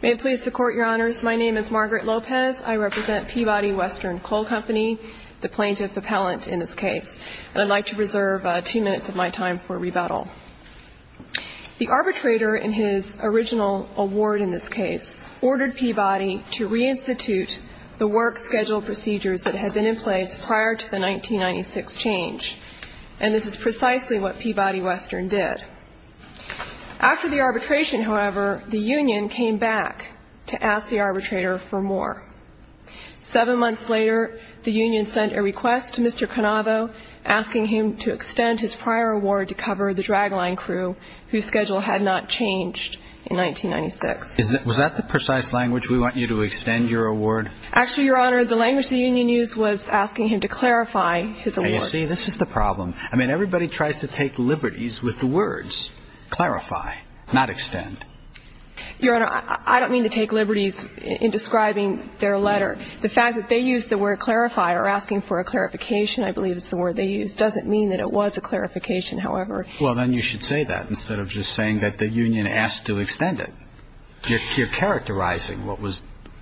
May it please the Court, Your Honors, my name is Margaret Lopez. I represent Peabody Western Coal Company, the plaintiff appellant in this case, and I'd like to reserve two minutes of my time for rebuttal. The arbitrator, in his original award in this case, ordered Peabody to re-institute the work schedule procedures that had been in place prior to the 1996 change, and this is precisely what Peabody Western did. After the arbitration, however, the union came back to ask the arbitrator for more. Seven months later, the union sent a request to Mr. Canavo asking him to extend his prior award to cover the drag line crew whose schedule had not changed in 1996. Was that the precise language, we want you to extend your award? Actually, Your Honor, the language the union used was asking him to clarify his award. Now you see, this is the problem. I mean, everybody tries to take liberties with the words clarify, not extend. Your Honor, I don't mean to take liberties in describing their letter. The fact that they used the word clarify or asking for a clarification, I believe is the word they used, doesn't mean that it was a clarification, however. Well, then you should say that instead of just saying that the union asked to extend it. You're characterizing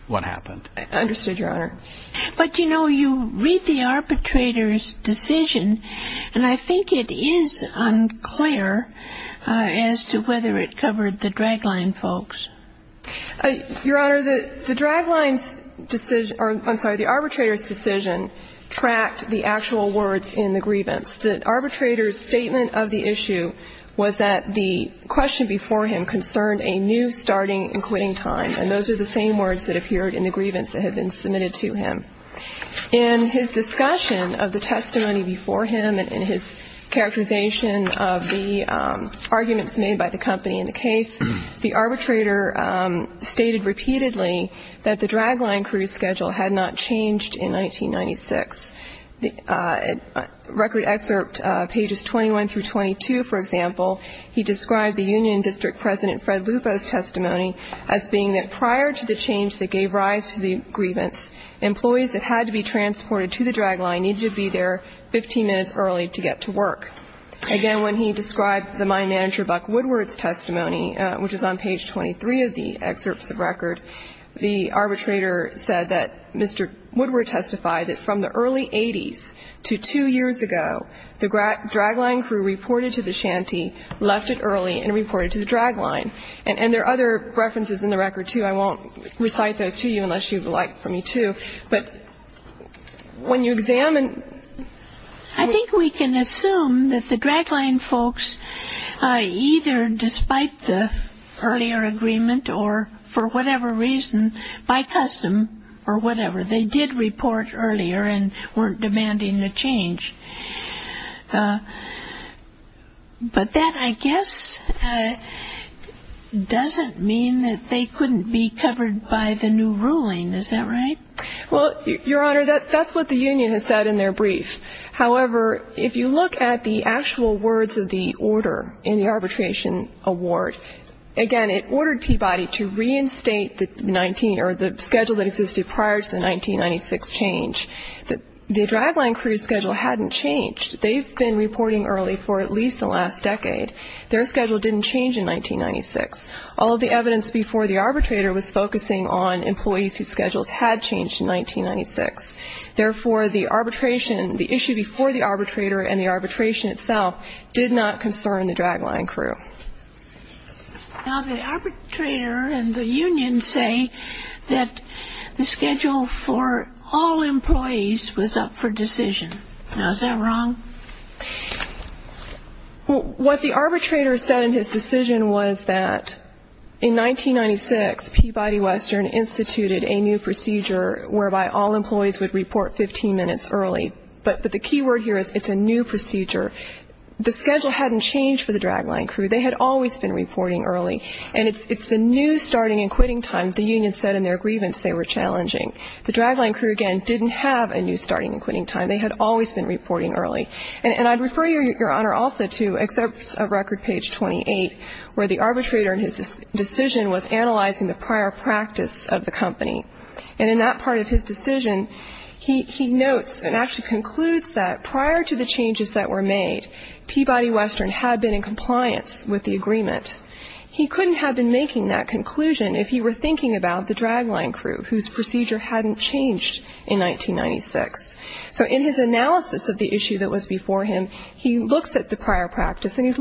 what happened. I understood, Your Honor. But, you know, you read the arbitrator's decision, and I think it is unclear as to whether it covered the drag line folks. Your Honor, the drag line's decision or, I'm sorry, the arbitrator's decision tracked the actual words in the grievance. The arbitrator's statement of the issue was that the question before him concerned a new starting and quitting time, and those are the same words that appeared in the grievance that had been submitted to him. In his discussion of the testimony before him and in his characterization of the arguments made by the company in the case, the arbitrator stated repeatedly that the drag line crew's schedule had not changed in 1996. The record excerpt, pages 21 through 22, for example, he described the union district president Fred Lupo's testimony as being that prior to the change that gave rise to the grievance, employees that had to be transported to the drag line needed to be there 15 minutes early to get to work. Again, when he described the mine manager Buck Woodward's testimony, which is on page 23 of the excerpts of record, the arbitrator said that Mr. Woodward testified that from the early 80s to two years ago, the drag line crew reported to the shanty, left it early, and reported to the drag line. And there are other references in the record, too. I won't recite those to you unless you would like for me to. But when you examine the record, I think we can assume that the drag line crew's folks either, despite the earlier agreement or for whatever reason, by custom or whatever, they did report earlier and weren't demanding a change. But that, I guess, doesn't mean that they couldn't be covered by the new ruling. Is that right? Well, Your Honor, that's what the union has said in their brief. However, if you look at the actual words of the order in the arbitration award, again, it ordered Peabody to reinstate the schedule that existed prior to the 1996 change. The drag line crew's schedule hadn't changed. They've been reporting early for at least the last decade. Their schedule didn't change in 1996. All of the evidence before the arbitrator was focusing on employees whose schedules had changed in 1996. Therefore, the arbitration, the issue before the arbitrator and the arbitration itself did not concern the drag line crew. Now, the arbitrator and the union say that the schedule for all employees was up for decision. Now, is that wrong? What the arbitrator said in his decision was that in 1996, Peabody Western instituted a new procedure whereby all employees would report 15 minutes early. But the key word here is it's a new procedure. The schedule hadn't changed for the drag line crew. They had always been reporting early. And it's the new starting and quitting time the union said in their grievance they were challenging. The drag line crew, again, didn't have a new starting and quitting time. They had always been reporting early. And I'd refer Your Honor also to excerpts of record page 28 where the arbitrator in his decision was analyzing the prior practice of the company. And in that part of his decision, he notes and actually concludes that prior to the changes that were made, Peabody Western had been in compliance with the agreement. He couldn't have been making that conclusion if he were thinking about the drag line crew whose procedure hadn't changed in 1996. So in his analysis of the issue that was before him, he looks at the prior practice, and he's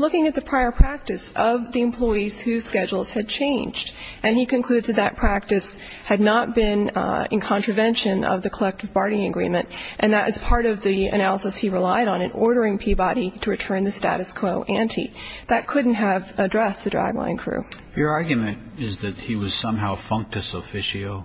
And he concludes that that practice had not been in contravention of the collective barting agreement. And that is part of the analysis he relied on in ordering Peabody to return the status quo ante. That couldn't have addressed the drag line crew. Your argument is that he was somehow a functus officio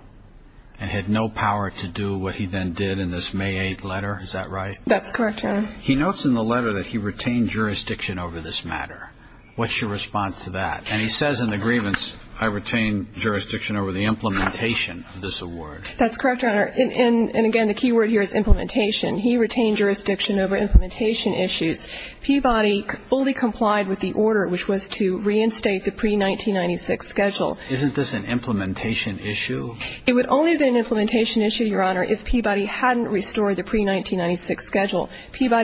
and had no power to do what he then did in this May 8th letter. Is that right? That's correct, Your Honor. He notes in the letter that he retained jurisdiction over this matter. What's your response to that? And he says in the grievance, I retained jurisdiction over the implementation of this award. That's correct, Your Honor. And again, the key word here is implementation. He retained jurisdiction over implementation issues. Peabody fully complied with the order, which was to reinstate the pre-1996 schedule. Isn't this an implementation issue? It would only have been an implementation issue, Your Honor, if Peabody hadn't restored Peabody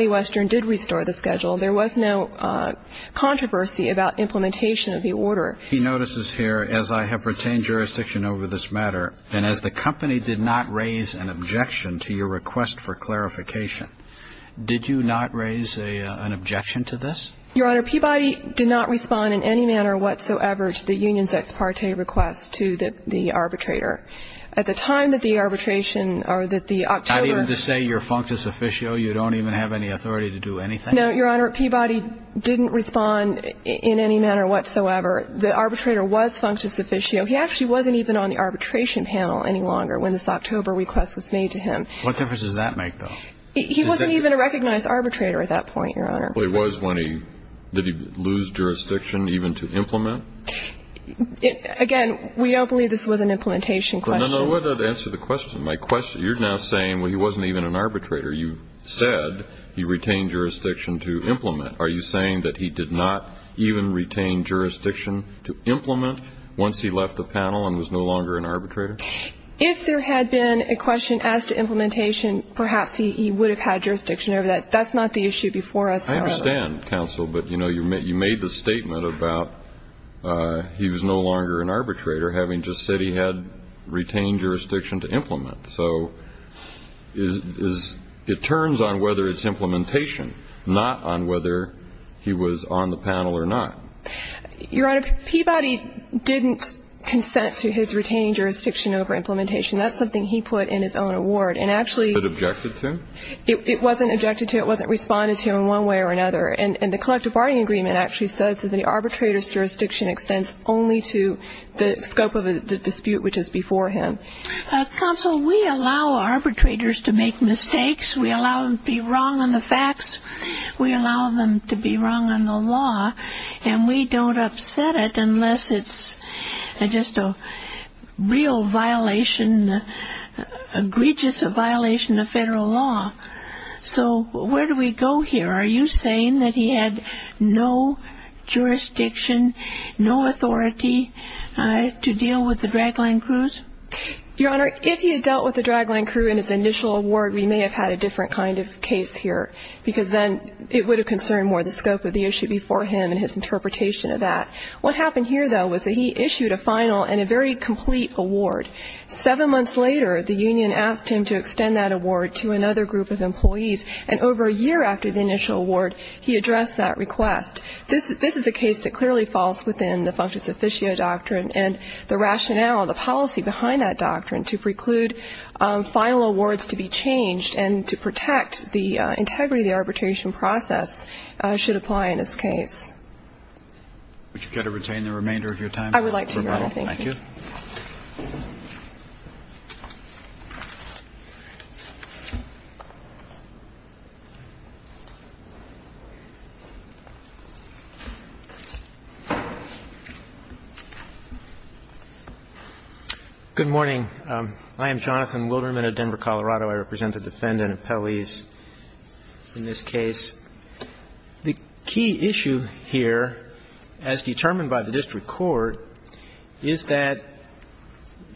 Western did restore the schedule. There was no controversy about implementation of the order. He notices here, as I have retained jurisdiction over this matter, and as the company did not raise an objection to your request for clarification, did you not raise an objection to this? Your Honor, Peabody did not respond in any manner whatsoever to the union's ex parte request to the arbitrator. At the time that the arbitration or that the October Not even to say you're functus officio, you don't even have any authority to do anything? No, Your Honor. Peabody didn't respond in any manner whatsoever. The arbitrator was functus officio. He actually wasn't even on the arbitration panel any longer when this October request was made to him. What difference does that make, though? He wasn't even a recognized arbitrator at that point, Your Honor. Well, he was when he, did he lose jurisdiction even to implement? Again, we don't believe this was an implementation question. No, no, no. Answer the question. My question, you're now saying, well, he wasn't even an arbitrator. You said he retained jurisdiction to implement. Are you saying that he did not even retain jurisdiction to implement once he left the panel and was no longer an arbitrator? If there had been a question as to implementation, perhaps he would have had jurisdiction over that. That's not the issue before us. I understand, counsel, but, you know, you made the statement about he was no longer an arbitrator having just said he had retained jurisdiction to implement. So it turns on whether it's implementation, not on whether he was on the panel or not. Your Honor, Peabody didn't consent to his retaining jurisdiction over implementation. That's something he put in his own award. And actually It wasn't objected to? It wasn't objected to. It wasn't responded to in one way or another. And the collective bargaining agreement actually says that the arbitrator's jurisdiction extends only to the scope of the dispute which is before him. Counsel, we allow arbitrators to make mistakes. We allow them to be wrong on the facts. We allow them to be wrong on the law. And we don't upset it unless it's just a real violation, egregious violation of federal law. So, where do we go here? Are you saying that he had no jurisdiction, no authority to deal with the dragline crews? Your Honor, if he had dealt with the dragline crew in his initial award, we may have had a different kind of case here because then it would have concerned more the scope of the issue before him and his interpretation of that. What happened here, though, was that he issued a final and a very complete award. Seven months later, the union asked him to extend that award to another group of employees. And over a year after the initial award, he addressed that request. This is a case that clearly falls within the functus officio doctrine, and the rationale, the policy behind that doctrine to preclude final awards to be changed and to protect the integrity of the arbitration process should apply in this case. Would you care to retain the remainder of your time? I would like to, Your Honor. Thank you. Thank you. Good morning. I am Jonathan Wilderman of Denver, Colorado. I represent the defendant, Appellees, in this case. The key issue here, as determined by the district court, is that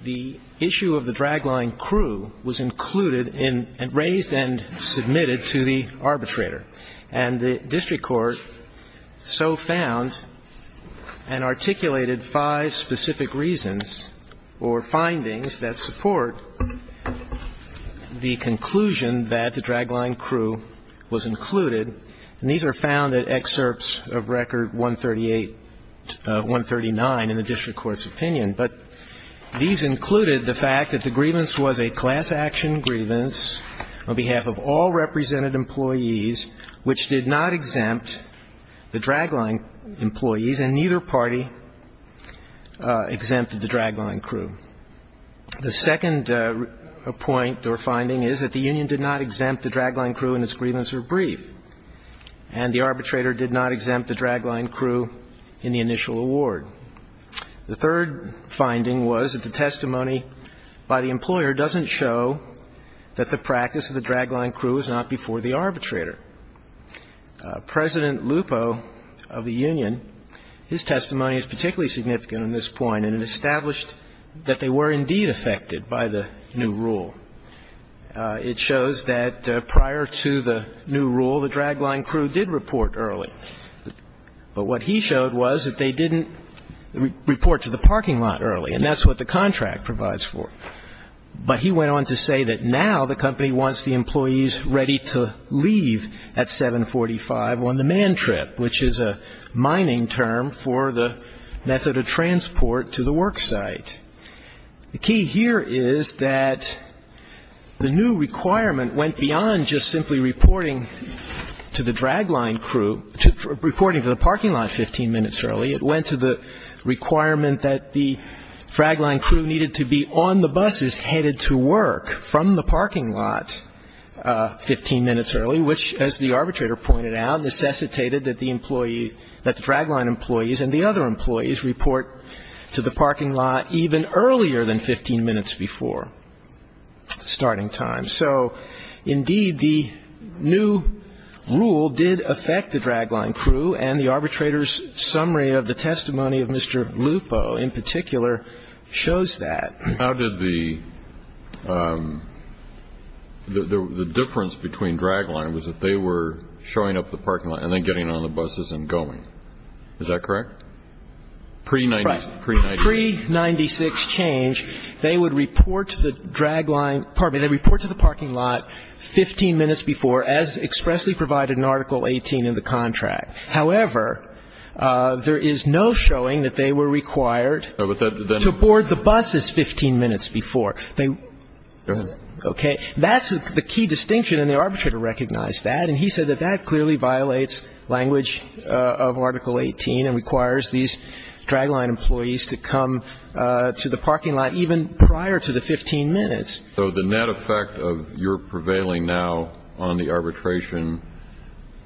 the issue of the dragline crew was included in and raised and submitted to the arbitrator. And the district court so found and articulated five specific reasons or findings that support the conclusion that the dragline crew was included. And these are found in excerpts of Record 138, 139 in the district court's opinion. But these included the fact that the grievance was a class action grievance on behalf of all represented employees, which did not exempt the dragline employees, and neither party exempted the dragline crew. The second point or finding is that the union did not exempt the dragline crew and its grievance were brief, and the arbitrator did not exempt the dragline crew in the initial award. The third finding was that the testimony by the employer doesn't show that the practice of the dragline crew is not before the arbitrator. President Lupo of the union, his testimony is particularly significant in this point and it established that they were indeed affected by the new rule. It shows that prior to the new rule, the dragline crew did report early. But what he showed was that they didn't report to the parking lot early, and that's what the contract provides for. But he went on to say that now the company wants the employees ready to leave at 745 on the man trip, which is a mining term for the method of transport to the worksite. The key here is that the new requirement went beyond just simply reporting to the dragline crew, reporting to the parking lot 15 minutes early. It went to the requirement that the dragline crew needed to be on the buses headed to work from the parking lot 15 minutes early, which, as the arbitrator pointed out, necessitated that the employees, that the dragline employees and the other employees report to the parking lot even earlier than 15 minutes before starting time. So, indeed, the new rule did affect the dragline crew, and the arbitrator's summary of the testimony of Mr. Lupo in particular shows that. The difference between dragline was that they were showing up at the parking lot and then getting on the buses and going. Is that correct? Pre-'96 change, they would report to the parking lot 15 minutes before, as expressly provided in Article 18 in the contract. However, there is no showing that they were required to board the buses 15 minutes before. Go ahead. Okay. That's the key distinction, and the arbitrator recognized that. And he said that that clearly violates language of Article 18 and requires these dragline employees to come to the parking lot even prior to the 15 minutes. So the net effect of your prevailing now on the arbitration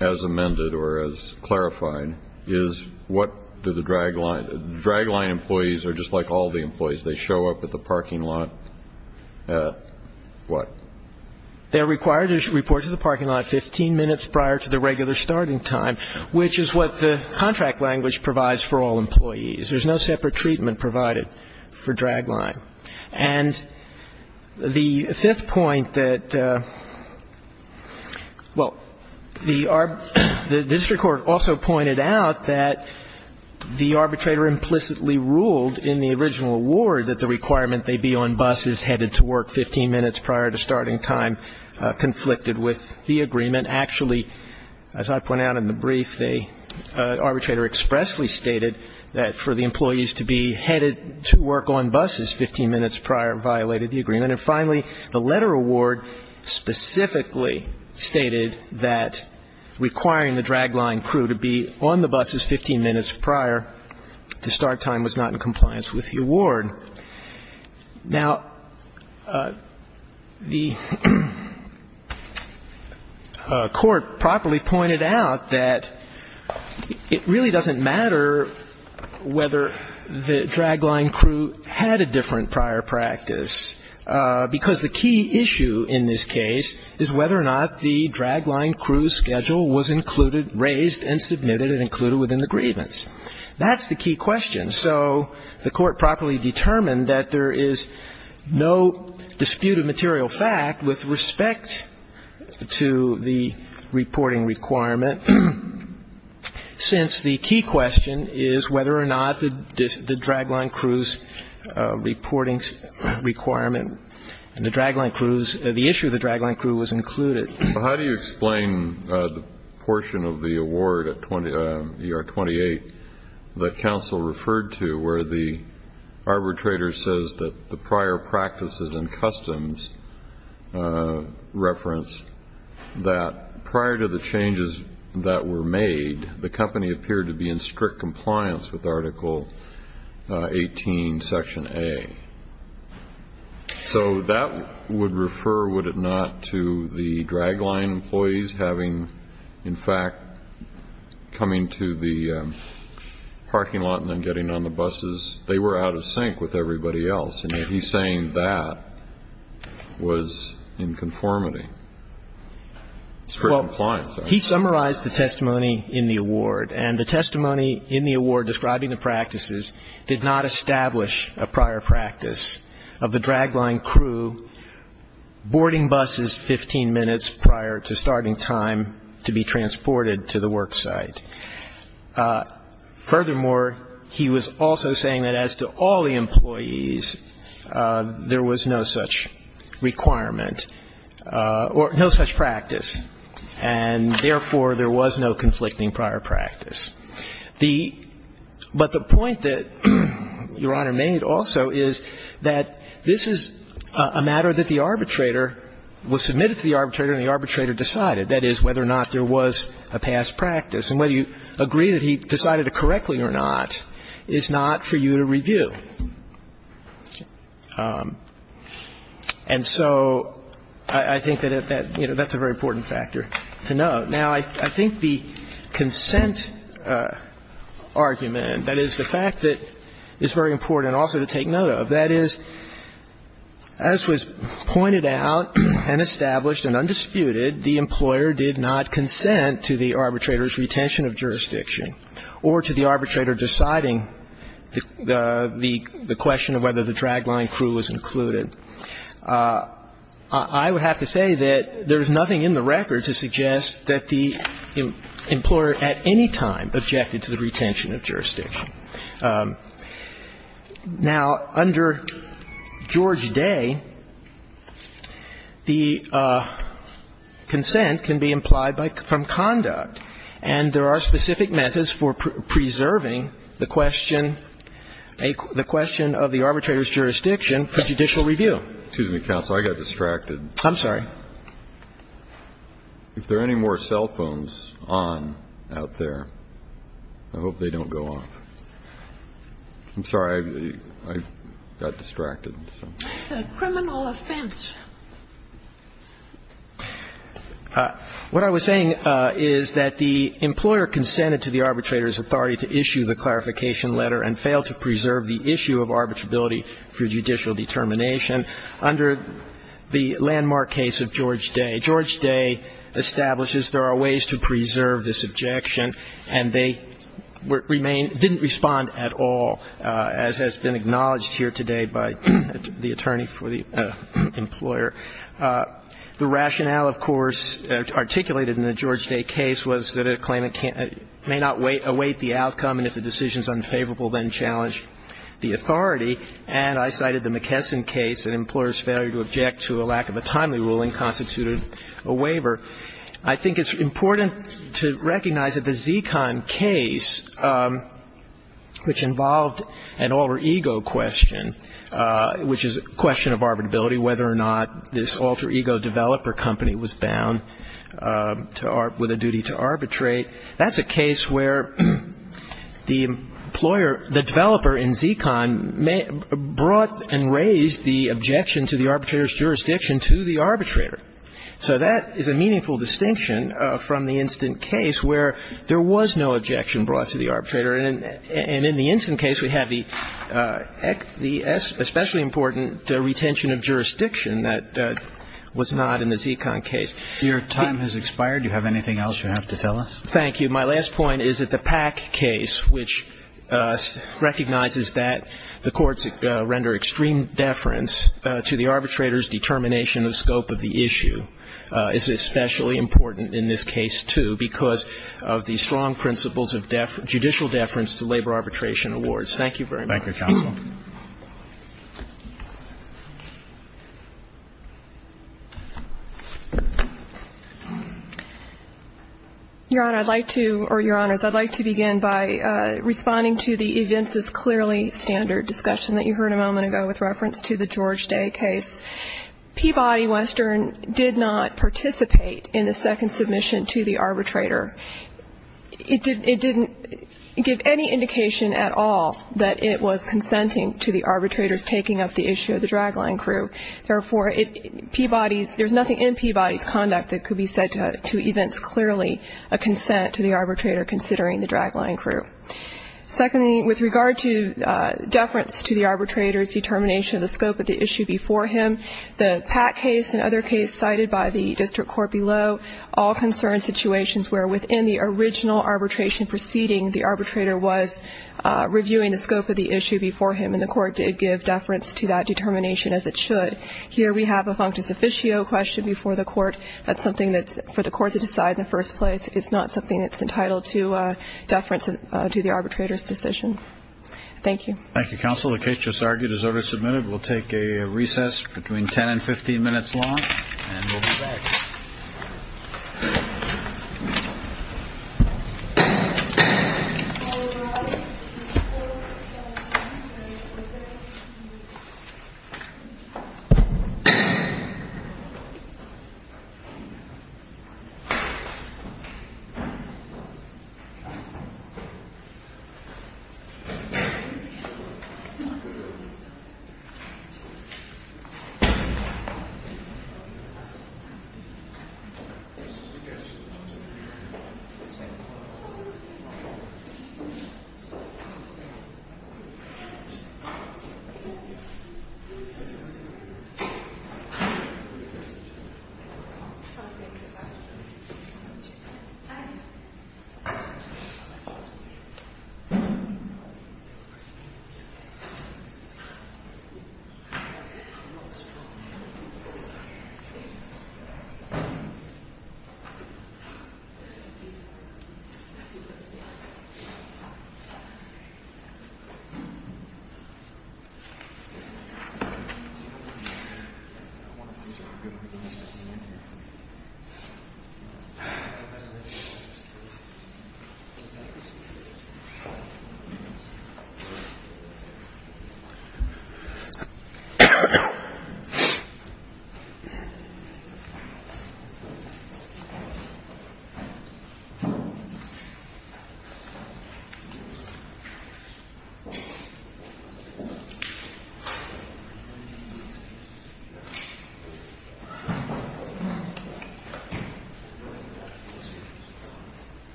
as amended or as clarified is what do the dragline employees are just like all the employees. They show up at the parking lot, what? They're required to report to the parking lot 15 minutes prior to the regular starting time, which is what the contract language provides for all employees. There's no separate treatment provided for dragline. And the fifth point that, well, the district court also pointed out that the arbitrator implicitly ruled in the original award that the requirement they be on buses headed to work 15 minutes prior to starting time conflicted with the agreement. Actually, as I point out in the brief, the arbitrator expressly stated that for the employees to be headed to work on buses 15 minutes prior violated the agreement. And finally, the letter award specifically stated that requiring the dragline crew to be on the buses 15 minutes prior to start time was not in compliance with the award. Now, the Court properly pointed out that it really doesn't matter whether the dragline crew had a different prior practice, because the key issue in this case is whether or not the dragline crew's schedule was included, raised and submitted and included within the grievance. That's the key question. So the Court properly determined that there is no dispute of material fact with respect to the reporting requirement, since the key question is whether or not the dragline crew's reporting requirement, the issue of the dragline crew was included. Well, how do you explain the portion of the award, ER-28, that counsel referred to where the arbitrator says that the prior practices and customs reference that prior to the changes that were made, the company appeared to be in strict compliance with Article 18, Section A? So that would refer, would it not, to the dragline employees having, in fact, coming to the parking lot and then getting on the buses. They were out of sync with everybody else. And yet he's saying that was in conformity, strict compliance. Well, he summarized the testimony in the award. And the testimony in the award describing the practices did not establish a prior practice of the dragline crew boarding buses 15 minutes prior to starting time to be transported to the work site. Furthermore, he was also saying that as to all the employees, there was no such requirement or no such practice, and therefore, there was no conflicting prior practice. The — but the point that Your Honor made also is that this is a matter that the arbitrator was submitted to the arbitrator and the arbitrator decided, that is, whether or not there was a past practice. And whether you agree that he decided it correctly or not is not for you to review. And so I think that, you know, that's a very important factor to note. Now, I think the consent argument, that is, the fact that it's very important also to take note of, that is, as was pointed out and established and undisputed, the employer did not consent to the arbitrator's retention of jurisdiction or to the arbitrator deciding the question of whether the dragline crew was included. I would have to say that there's nothing in the record to suggest that the employer at any time objected to the retention of jurisdiction. Now, under George Day, the consent can be implied from conduct, and there are specific methods for preserving the question, the question of the arbitrator's jurisdiction for judicial review. Excuse me, counsel. I got distracted. I'm sorry. If there are any more cell phones on out there, I hope they don't go off. I'm sorry. I got distracted. Criminal offense. What I was saying is that the employer consented to the arbitrator's authority to issue the clarification letter and failed to preserve the issue of arbitrability for judicial determination. Under the landmark case of George Day, George Day establishes there are ways to preserve this objection, and they remain, didn't respond at all, as has been acknowledged here today by the attorney for the employer. The rationale, of course, articulated in the George Day case was that a claimant may not await the outcome, and if the decision is unfavorable, then challenge the authority. And I cited the McKesson case, an employer's failure to object to a lack of a timely ruling constituted a waiver. I think it's important to recognize that the Zekon case, which involved an alter ego question, which is a question of arbitrability, whether or not this alter ego developer company was bound with a duty to arbitrate, that's a case where the employer, the developer in Zekon brought and raised the objection to the arbitrator's jurisdiction to the arbitrator. So that is a meaningful distinction from the instant case where there was no objection brought to the arbitrator. And in the instant case, we have the especially important retention of jurisdiction that was not in the Zekon case. Your time has expired. Do you have anything else you have to tell us? Thank you. My last point is that the Pack case, which recognizes that the courts render extreme deference to the arbitrator's determination of scope of the issue, is especially important in this case, too, because of the strong principles of judicial deference to labor arbitration awards. Thank you very much. Thank you, counsel. Your Honor, I'd like to or Your Honors, I'd like to begin by responding to the events as clearly standard discussion that you heard a moment ago with reference to the George Day case. Peabody Western did not participate in the second submission to the arbitrator. It didn't give any indication at all that it was consenting to the arbitrator's taking up the issue of the drag line crew. Therefore, Peabody's, there's nothing in Peabody's conduct that could be said to events clearly a consent to the arbitrator considering the drag line crew. Secondly, with regard to deference to the arbitrator's determination of the scope of the issue, the Pat case and other cases cited by the district court below all concern situations where within the original arbitration proceeding, the arbitrator was reviewing the scope of the issue before him, and the court did give deference to that determination as it should. Here we have a functus officio question before the court. That's something that's for the court to decide in the first place. It's not something that's entitled to deference to the arbitrator's decision. Thank you. Thank you, counsel. The case just argued is order submitted. We'll take a recess between 10 and 15 minutes long. Thank you. Thank you. Thank you. Thank you.